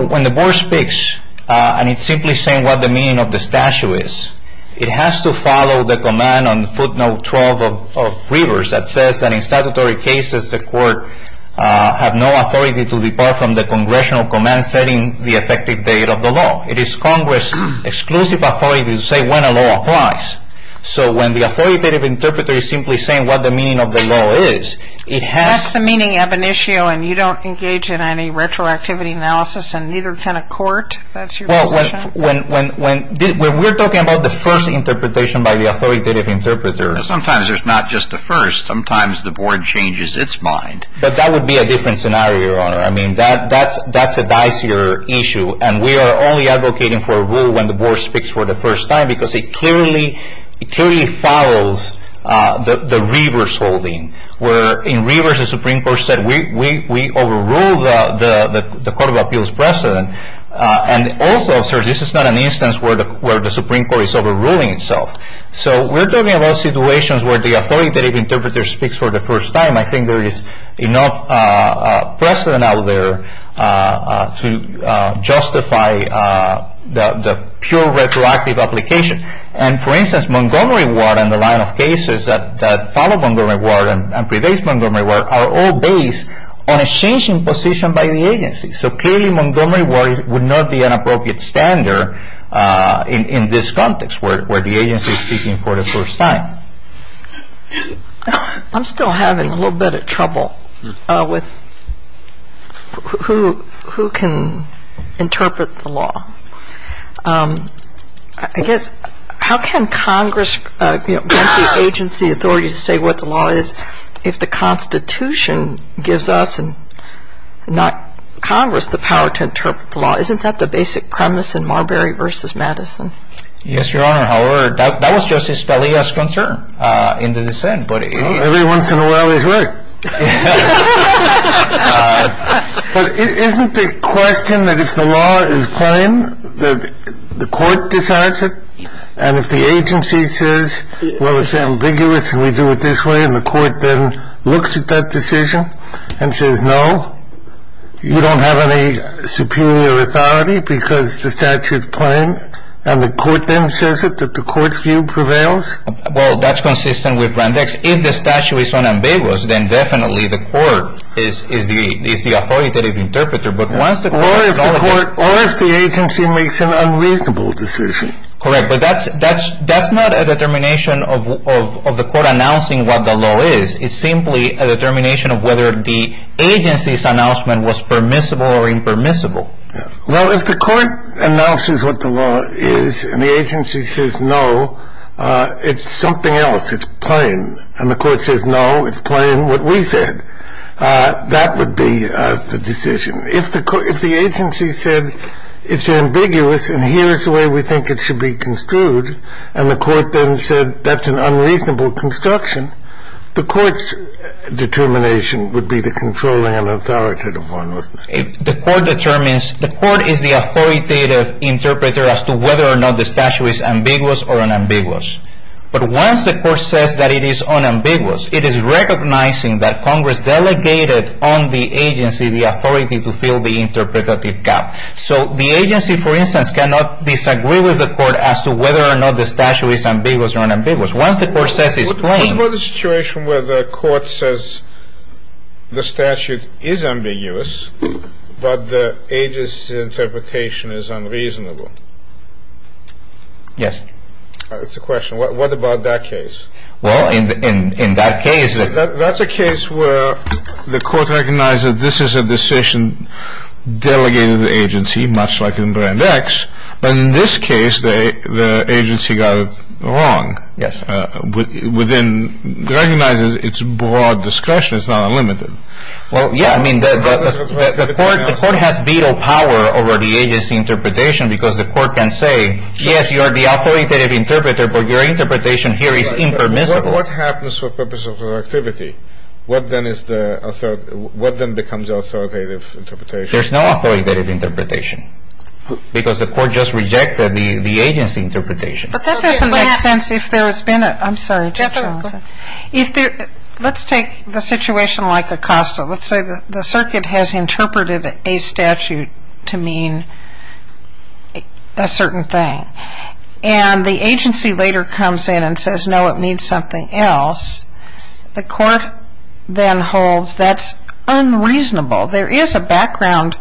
when the board speaks, and it's simply saying what the meaning of the statute is, it has to follow the command on footnote 12 of Rivers that says that in statutory cases, the court have no authority to depart from the congressional command setting the effective date of the law. It is Congress' exclusive authority to say when a law applies. So when the authoritative interpreter is simply saying what the meaning of the law is, it has to. That's the meaning of an issue, and you don't engage in any retroactivity analysis, and neither can a court? That's your position? Well, when we're talking about the first interpretation by the authoritative interpreter. Sometimes there's not just a first. Sometimes the board changes its mind. But that would be a different scenario, Your Honor. I mean, that's a dicier issue, and we are only advocating for a rule when the board speaks for the first time, because it clearly follows the Rivers holding, where in Rivers the Supreme Court said we overrule the Court of Appeals precedent. And also, sir, this is not an instance where the Supreme Court is overruling itself. So we're talking about situations where the authoritative interpreter speaks for the first time. I think there is enough precedent out there to justify the pure retroactive application. And, for instance, Montgomery Ward and the line of cases that follow Montgomery Ward and pervades Montgomery Ward are all based on a changing position by the agency. So clearly Montgomery Ward would not be an appropriate standard in this context, where the agency is speaking for the first time. I'm still having a little bit of trouble with who can interpret the law. I guess, how can Congress grant the agency authority to say what the law is If the Constitution gives us and not Congress the power to interpret the law, isn't that the basic premise in Marbury v. Madison? Yes, Your Honor. However, that was Justice Scalia's concern in the dissent. Every once in a while he's right. But isn't the question that if the law is plain, the Court decides it? And if the agency says, well, it's ambiguous and we do it this way, and the Court then looks at that decision and says, no, you don't have any superior authority because the statute is plain, and the Court then says it, that the Court's view prevails? Well, that's consistent with Grandex. If the statute is unambiguous, then definitely the Court is the authoritative interpreter. Or if the agency makes an unreasonable decision. Correct, but that's not a determination of the Court announcing what the law is. It's simply a determination of whether the agency's announcement was permissible or impermissible. Well, if the Court announces what the law is and the agency says, no, it's something else, it's plain, and the Court says, no, it's plain what we said, that would be the decision. If the agency said, it's ambiguous and here's the way we think it should be construed, and the Court then said that's an unreasonable construction, the Court's determination would be the controlling and authoritative one, wouldn't it? The Court determines. The Court is the authoritative interpreter as to whether or not the statute is ambiguous or unambiguous. But once the Court says that it is unambiguous, it is recognizing that Congress delegated on the agency the authority to fill the interpretative gap. So the agency, for instance, cannot disagree with the Court as to whether or not the statute is ambiguous or unambiguous. Once the Court says it's plain. What about the situation where the Court says the statute is ambiguous, but the agency's interpretation is unreasonable? Yes. It's a question. What about that case? Well, in that case. That's a case where the Court recognizes this is a decision delegated to the agency, much like in Brand X. But in this case, the agency got it wrong. Yes. Within, recognizes it's broad discretion. It's not unlimited. Well, yeah. I mean, the Court has veto power over the agency interpretation because the Court can say, yes, you are the authoritative interpreter, but your interpretation here is impermissible. What happens for purpose of productivity? What then is the, what then becomes authoritative interpretation? There's no authoritative interpretation because the Court just rejected the agency interpretation. But that doesn't make sense if there has been a, I'm sorry. If there, let's take the situation like Acosta. Let's say the circuit has interpreted a statute to mean a certain thing. And the agency later comes in and says, no, it means something else. The Court then holds that's unreasonable. There is a background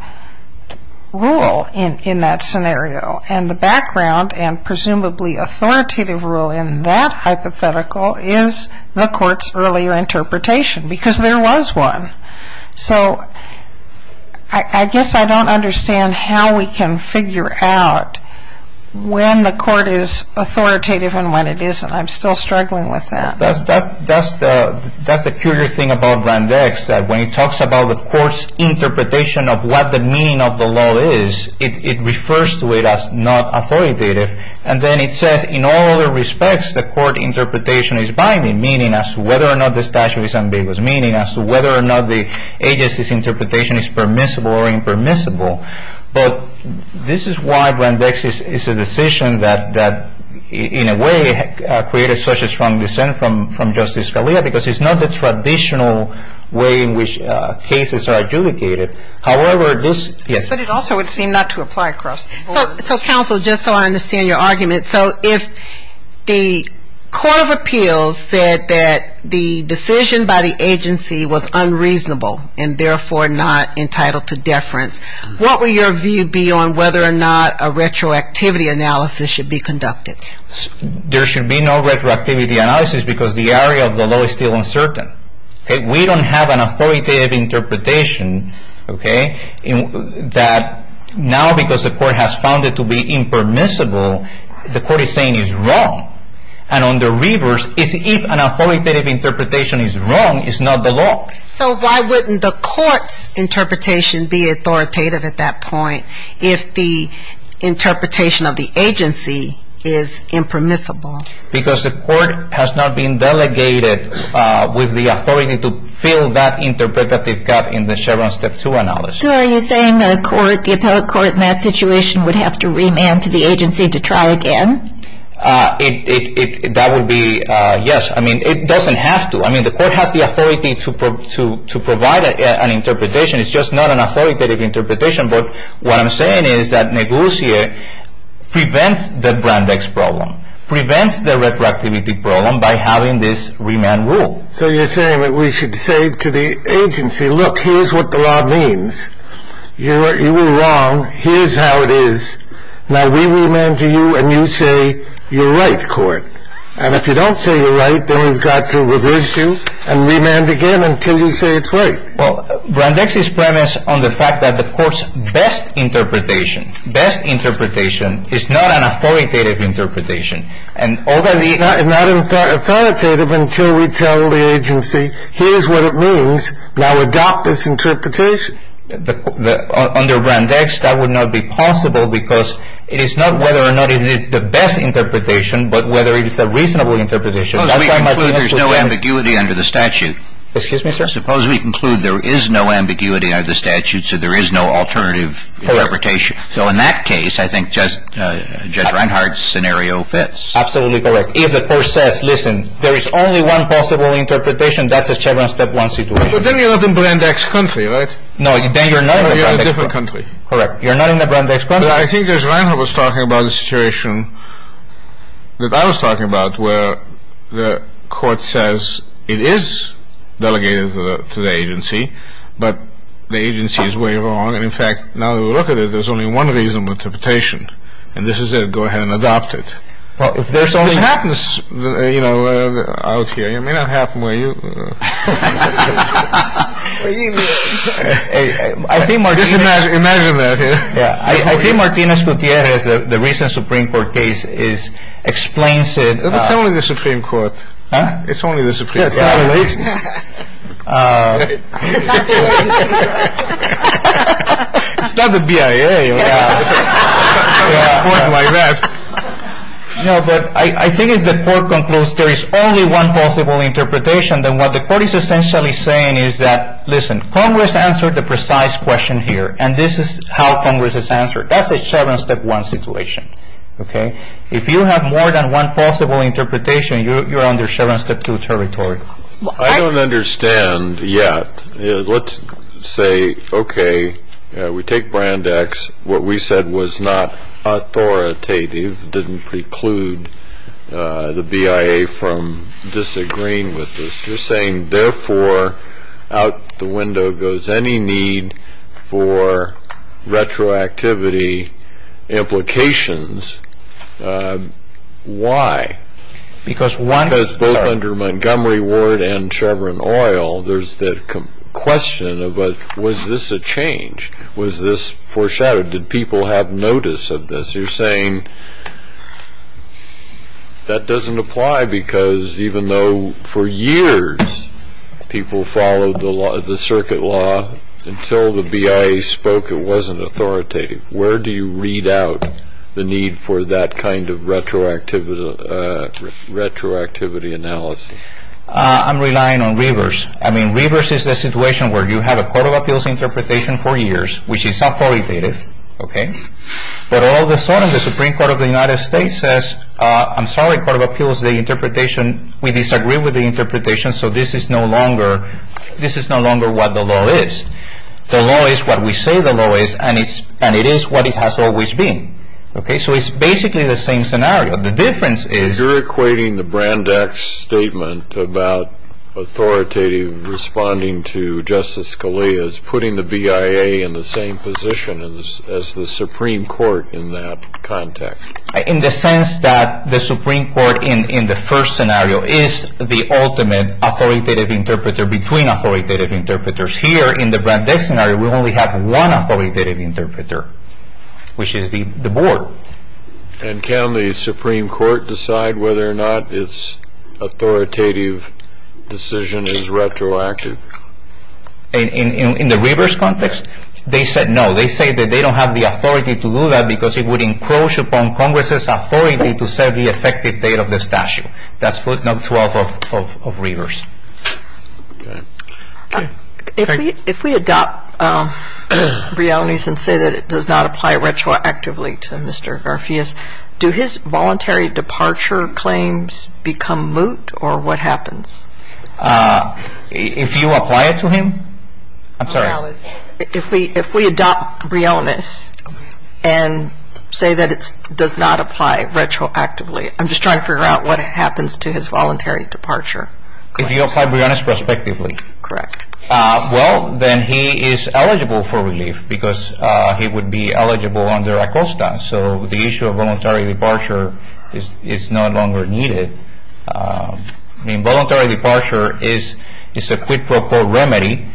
rule in that scenario. And the background and presumably authoritative rule in that hypothetical is the Court's earlier interpretation because there was one. So I guess I don't understand how we can figure out when the Court is authoritative and when it isn't. I'm still struggling with that. That's the curious thing about Grand X, that when it talks about the Court's interpretation of what the meaning of the law is, it refers to it as not authoritative. And then it says in all other respects the Court interpretation is binding, meaning as to whether or not the statute is ambiguous, meaning as to whether or not the agency's interpretation is permissible or impermissible. But this is why Grand X is a decision that in a way created such a strong dissent from Justice Scalia because it's not the traditional way in which cases are adjudicated. However, this, yes. But it also would seem not to apply across the board. So, Counsel, just so I understand your argument. So if the Court of Appeals said that the decision by the agency was unreasonable and therefore not entitled to deference, what would your view be on whether or not a retroactivity analysis should be conducted? There should be no retroactivity analysis because the area of the law is still uncertain. We don't have an authoritative interpretation that now because the Court has found it to be impermissible, the Court is saying it's wrong. And on the reverse, if an authoritative interpretation is wrong, it's not the law. So why wouldn't the Court's interpretation be authoritative at that point if the interpretation of the agency is impermissible? Because the Court has not been delegated with the authority to fill that interpretative gap in the Chevron Step 2 analysis. So are you saying the Court, the appellate court in that situation, would have to remand to the agency to try again? That would be, yes. I mean, it doesn't have to. I mean, the Court has the authority to provide an interpretation. It's just not an authoritative interpretation. But what I'm saying is that Négoutier prevents the Brandeis problem, prevents the retroactivity problem by having this remand rule. So you're saying that we should say to the agency, look, here's what the law means. You were wrong. Here's how it is. Now we remand to you, and you say you're right, Court. And if you don't say you're right, then we've got to reverse you and remand again until you say it's right. Well, Brandeis is premised on the fact that the Court's best interpretation, best interpretation is not an authoritative interpretation. It's not authoritative until we tell the agency, here's what it means. Now adopt this interpretation. Under Brandeis, that would not be possible because it is not whether or not it is the best interpretation, but whether it is a reasonable interpretation. Suppose we conclude there's no ambiguity under the statute. Excuse me, sir? Suppose we conclude there is no ambiguity under the statute, so there is no alternative interpretation. So in that case, I think Judge Reinhardt's scenario fits. Absolutely correct. If the court says, listen, there is only one possible interpretation, that's a Chevron Step 1 situation. But then you're not in Brandeis' country, right? No, then you're not in Brandeis' country. Then you're in a different country. Correct. You're not in Brandeis' country. But I think Judge Reinhardt was talking about a situation that I was talking about, where the Court says it is delegated to the agency, but the agency is way wrong. And, in fact, now that we look at it, there's only one reasonable interpretation. And this is it. Go ahead and adopt it. Well, if there's only... It happens, you know, out here. It may not happen where you... I think Martínez... Just imagine that. I think Martínez Gutiérrez, the recent Supreme Court case, explains it... It's only the Supreme Court. Huh? It's only the Supreme Court. Congratulations. It's not the BIA or something like that. No, but I think if the Court concludes there is only one possible interpretation, then what the Court is essentially saying is that, listen, Congress answered the precise question here, and this is how Congress has answered it. That's a seven-step-one situation. If you have more than one possible interpretation, you're under seven-step-two territory. I don't understand yet. Let's say, okay, we take Brand X. What we said was not authoritative, didn't preclude the BIA from disagreeing with this. You're saying, therefore, out the window goes any need for retroactivity implications. Why? Because both under Montgomery Ward and Chevron Oil, there's the question of was this a change? Was this foreshadowed? Did people have notice of this? You're saying that doesn't apply because even though for years people followed the circuit law, until the BIA spoke it wasn't authoritative. Where do you read out the need for that kind of retroactivity analysis? I'm relying on Rivers. I mean, Rivers is a situation where you have a Court of Appeals interpretation for years, which is authoritative, but all of a sudden the Supreme Court of the United States says, I'm sorry, Court of Appeals, the interpretation, we disagree with the interpretation, so this is no longer what the law is. The law is what we say the law is, and it is what it has always been. So it's basically the same scenario. The difference is you're equating the Brand X statement about authoritative responding to Justice Scalia as putting the BIA in the same position as the Supreme Court in that context. In the sense that the Supreme Court in the first scenario is the ultimate authoritative interpreter between authoritative interpreters. Here in the Brand X scenario we only have one authoritative interpreter, which is the Board. And can the Supreme Court decide whether or not its authoritative decision is retroactive? In the Rivers context, they said no. They say that they don't have the authority to do that because it would encroach upon Congress's authority to set the effective date of the statute. That's footnote 12 of Rivers. If we adopt realities and say that it does not apply retroactively to Mr. Garfias, do his voluntary departure claims become moot, or what happens? If you apply it to him? I'm sorry. If we adopt realness and say that it does not apply retroactively, I'm just trying to figure out what happens to his voluntary departure. If you apply realness prospectively? Correct. Well, then he is eligible for relief because he would be eligible under ACOSTA. So the issue of voluntary departure is no longer needed. The involuntary departure is a quid pro quo remedy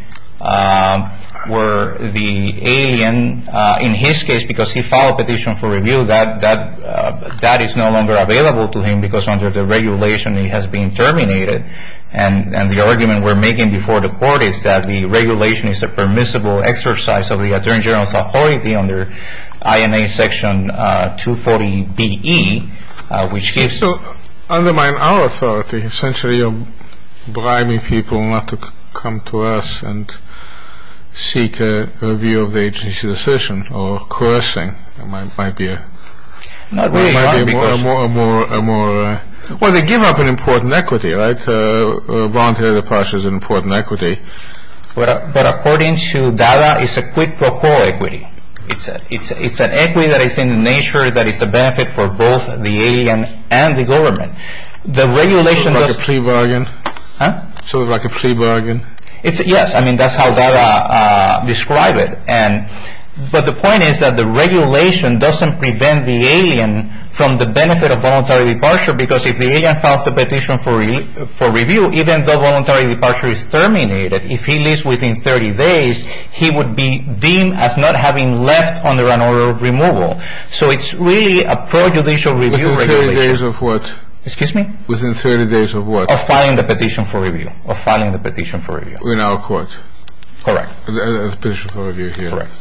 where the alien, in his case, because he filed a petition for review, that is no longer available to him because under the regulation he has been terminated. And the argument we're making before the Court is that the regulation is a permissible exercise of the Attorney General's authority under INA Section 240B-E. So undermine our authority essentially of bribing people not to come to us and seek a review of the agency's decision or coercing. It might be a more, well, they give up an important equity, right? Voluntary departure is an important equity. But according to DADA, it's a quid pro quo equity. It's an equity that is in the nature that it's a benefit for both the alien and the government. So it's like a plea bargain? Yes. I mean, that's how DADA describes it. But the point is that the regulation doesn't prevent the alien from the benefit of voluntary departure because if the alien files the petition for review, even though voluntary departure is terminated, if he leaves within 30 days, he would be deemed as not having left under an order of removal. So it's really a prejudicial review regulation. Within 30 days of what? Excuse me? Within 30 days of what? Of filing the petition for review. Of filing the petition for review. In our court. Correct. The petition for review here. Correct.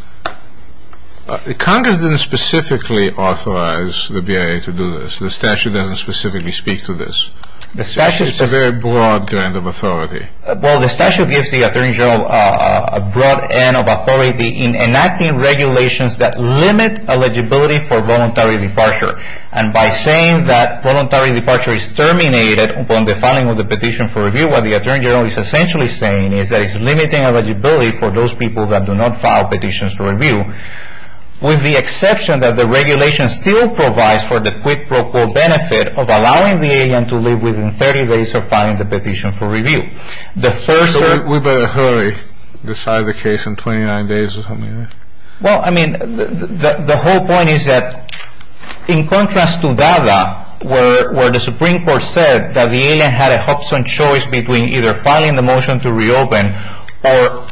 Congress didn't specifically authorize the BIA to do this. The statute doesn't specifically speak to this. It's a very broad grant of authority. Well, the statute gives the Attorney General a broad end of authority in enacting regulations that limit eligibility for voluntary departure. And by saying that voluntary departure is terminated upon the filing of the petition for review, what the Attorney General is essentially saying is that it's limiting eligibility for those people that do not file petitions for review, with the exception that the regulation still provides for the quid pro quo benefit of allowing the alien to leave within 30 days of filing the petition for review. So we better hurry, decide the case in 29 days or something like that. Well, I mean, the whole point is that in contrast to DADA, where the Supreme Court said that the alien had a Hobson choice between either filing the motion to reopen or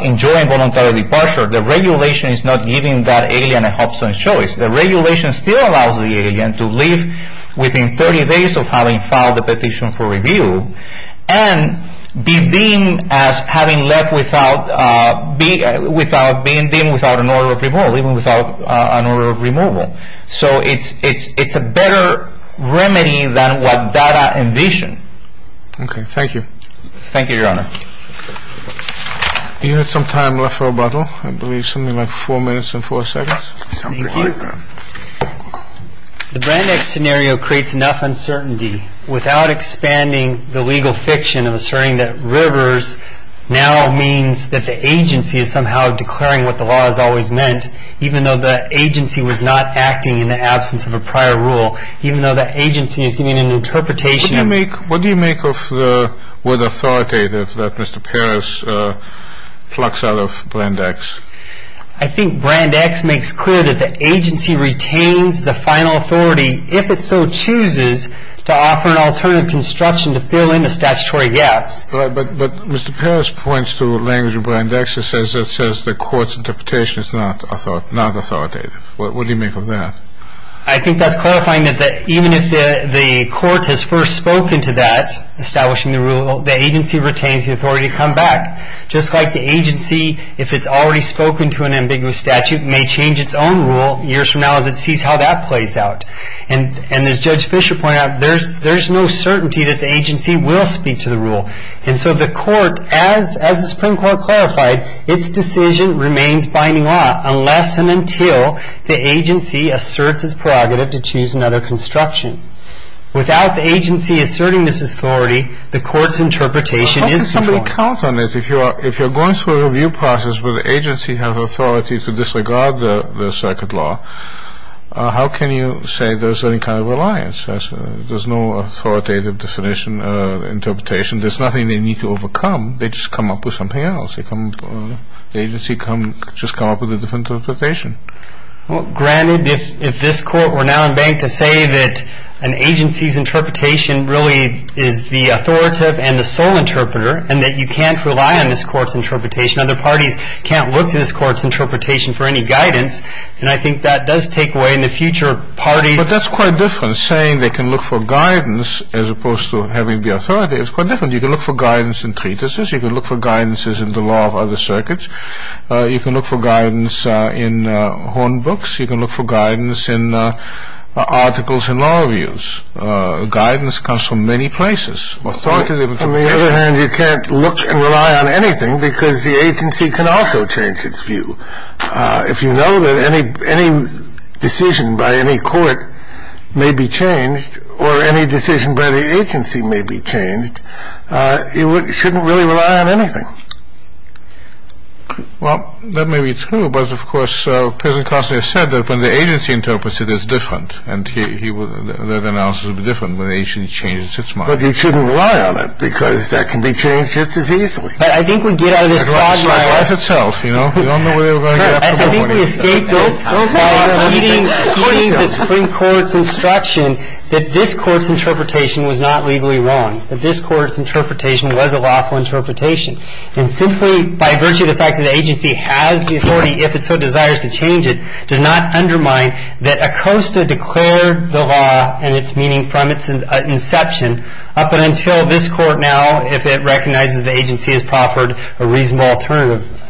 enjoying voluntary departure, the regulation is not giving that alien a Hobson choice. The regulation still allows the alien to leave within 30 days of having filed the petition for review and be deemed as having left without being deemed without an order of removal, even without an order of removal. So it's a better remedy than what DADA envisioned. Okay. Thank you. Thank you, Your Honor. Do you have some time left for rebuttal? I believe something like four minutes and four seconds. Yes. Something like that. The Brand X scenario creates enough uncertainty without expanding the legal fiction of asserting that Rivers now means that the agency is somehow declaring what the law has always meant, even though the agency was not acting in the absence of a prior rule, even though the agency is giving an interpretation of What do you make of the word authoritative that Mr. Peres plucks out of Brand X? I think Brand X makes clear that the agency retains the final authority, if it so chooses, to offer an alternative construction to fill in the statutory gaps. But Mr. Peres points to language in Brand X that says the court's interpretation is not authoritative. What do you make of that? I think that's clarifying that even if the court has first spoken to that, establishing the rule, the agency retains the authority to come back. Just like the agency, if it's already spoken to an ambiguous statute, may change its own rule years from now as it sees how that plays out. And as Judge Fischer pointed out, there's no certainty that the agency will speak to the rule. And so the court, as the Supreme Court clarified, its decision remains binding law unless and until the agency asserts its prerogative to choose another construction. Without the agency asserting this authority, the court's interpretation is strong. If you're going through a review process where the agency has authority to disregard the circuit law, how can you say there's any kind of reliance? There's no authoritative interpretation. There's nothing they need to overcome. They just come up with something else. The agency just comes up with a different interpretation. Granted, if this court were now in bank to say that an agency's interpretation really is the authoritative and the sole interpreter and that you can't rely on this court's interpretation, other parties can't look to this court's interpretation for any guidance, and I think that does take away in the future parties. But that's quite different. Saying they can look for guidance as opposed to having the authority is quite different. You can look for guidance in treatises. You can look for guidances in the law of other circuits. You can look for guidance in horn books. You can look for guidance in articles in law reviews. Guidance comes from many places. On the other hand, you can't look and rely on anything because the agency can also change its view. If you know that any decision by any court may be changed or any decision by the agency may be changed, you shouldn't really rely on anything. Well, that may be true, but, of course, as President Costner said, that when the agency interprets it, it's different, and that analysis will be different when the agency changes its mind. But you shouldn't rely on it because that can be changed just as easily. But I think we get out of this problem. It's life itself, you know. We don't know where we're going to get tomorrow morning. I think we escape this by heeding the Supreme Court's instruction that this court's interpretation was not legally wrong, that this court's interpretation was a lawful interpretation, and simply by virtue of the fact that the agency has the authority, if it so desires to change it, does not undermine that ACOSTA declared the law and its meaning from its inception up until this court now, if it recognizes the agency has proffered a reasonable alternative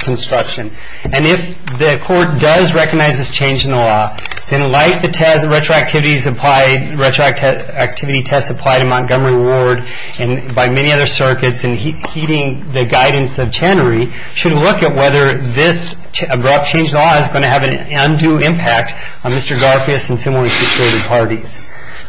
construction. And if the court does recognize this change in the law, then like the retroactivity test applied in Montgomery Ward and by many other circuits, and heeding the guidance of Chenery, should look at whether this abrupt change in the law is going to have an undue impact on Mr. Garfias and similarly situated parties.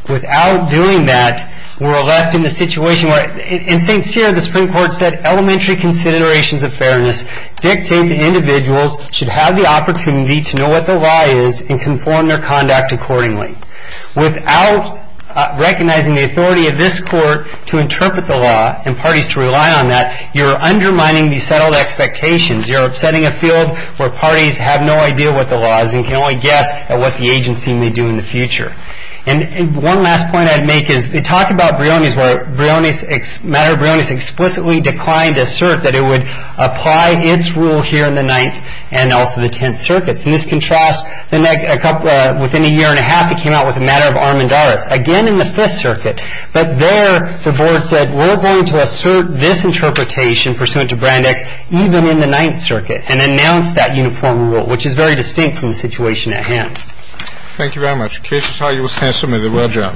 Without doing that, we're left in the situation where, in St. Cyr, the Supreme Court said elementary considerations of fairness dictate that individuals should have the opportunity to know what the lie is and conform their conduct accordingly. Without recognizing the authority of this court to interpret the law and parties to rely on that, you're undermining the settled expectations. You're upsetting a field where parties have no idea what the law is and can only guess at what the agency may do in the future. And one last point I'd make is, they talk about Brioni's where Matter of Brioni's explicitly declined to assert that it would apply its rule here in the Ninth and also the Tenth Circuits. And this contrasts within a year and a half it came out with the Matter of Armendaris, again in the Fifth Circuit. But there the board said, we're going to assert this interpretation pursuant to Brandeis even in the Ninth Circuit and announce that uniform rule, which is very distinct from the situation at hand. Thank you very much. Case is high. You will stand submitted. Well done.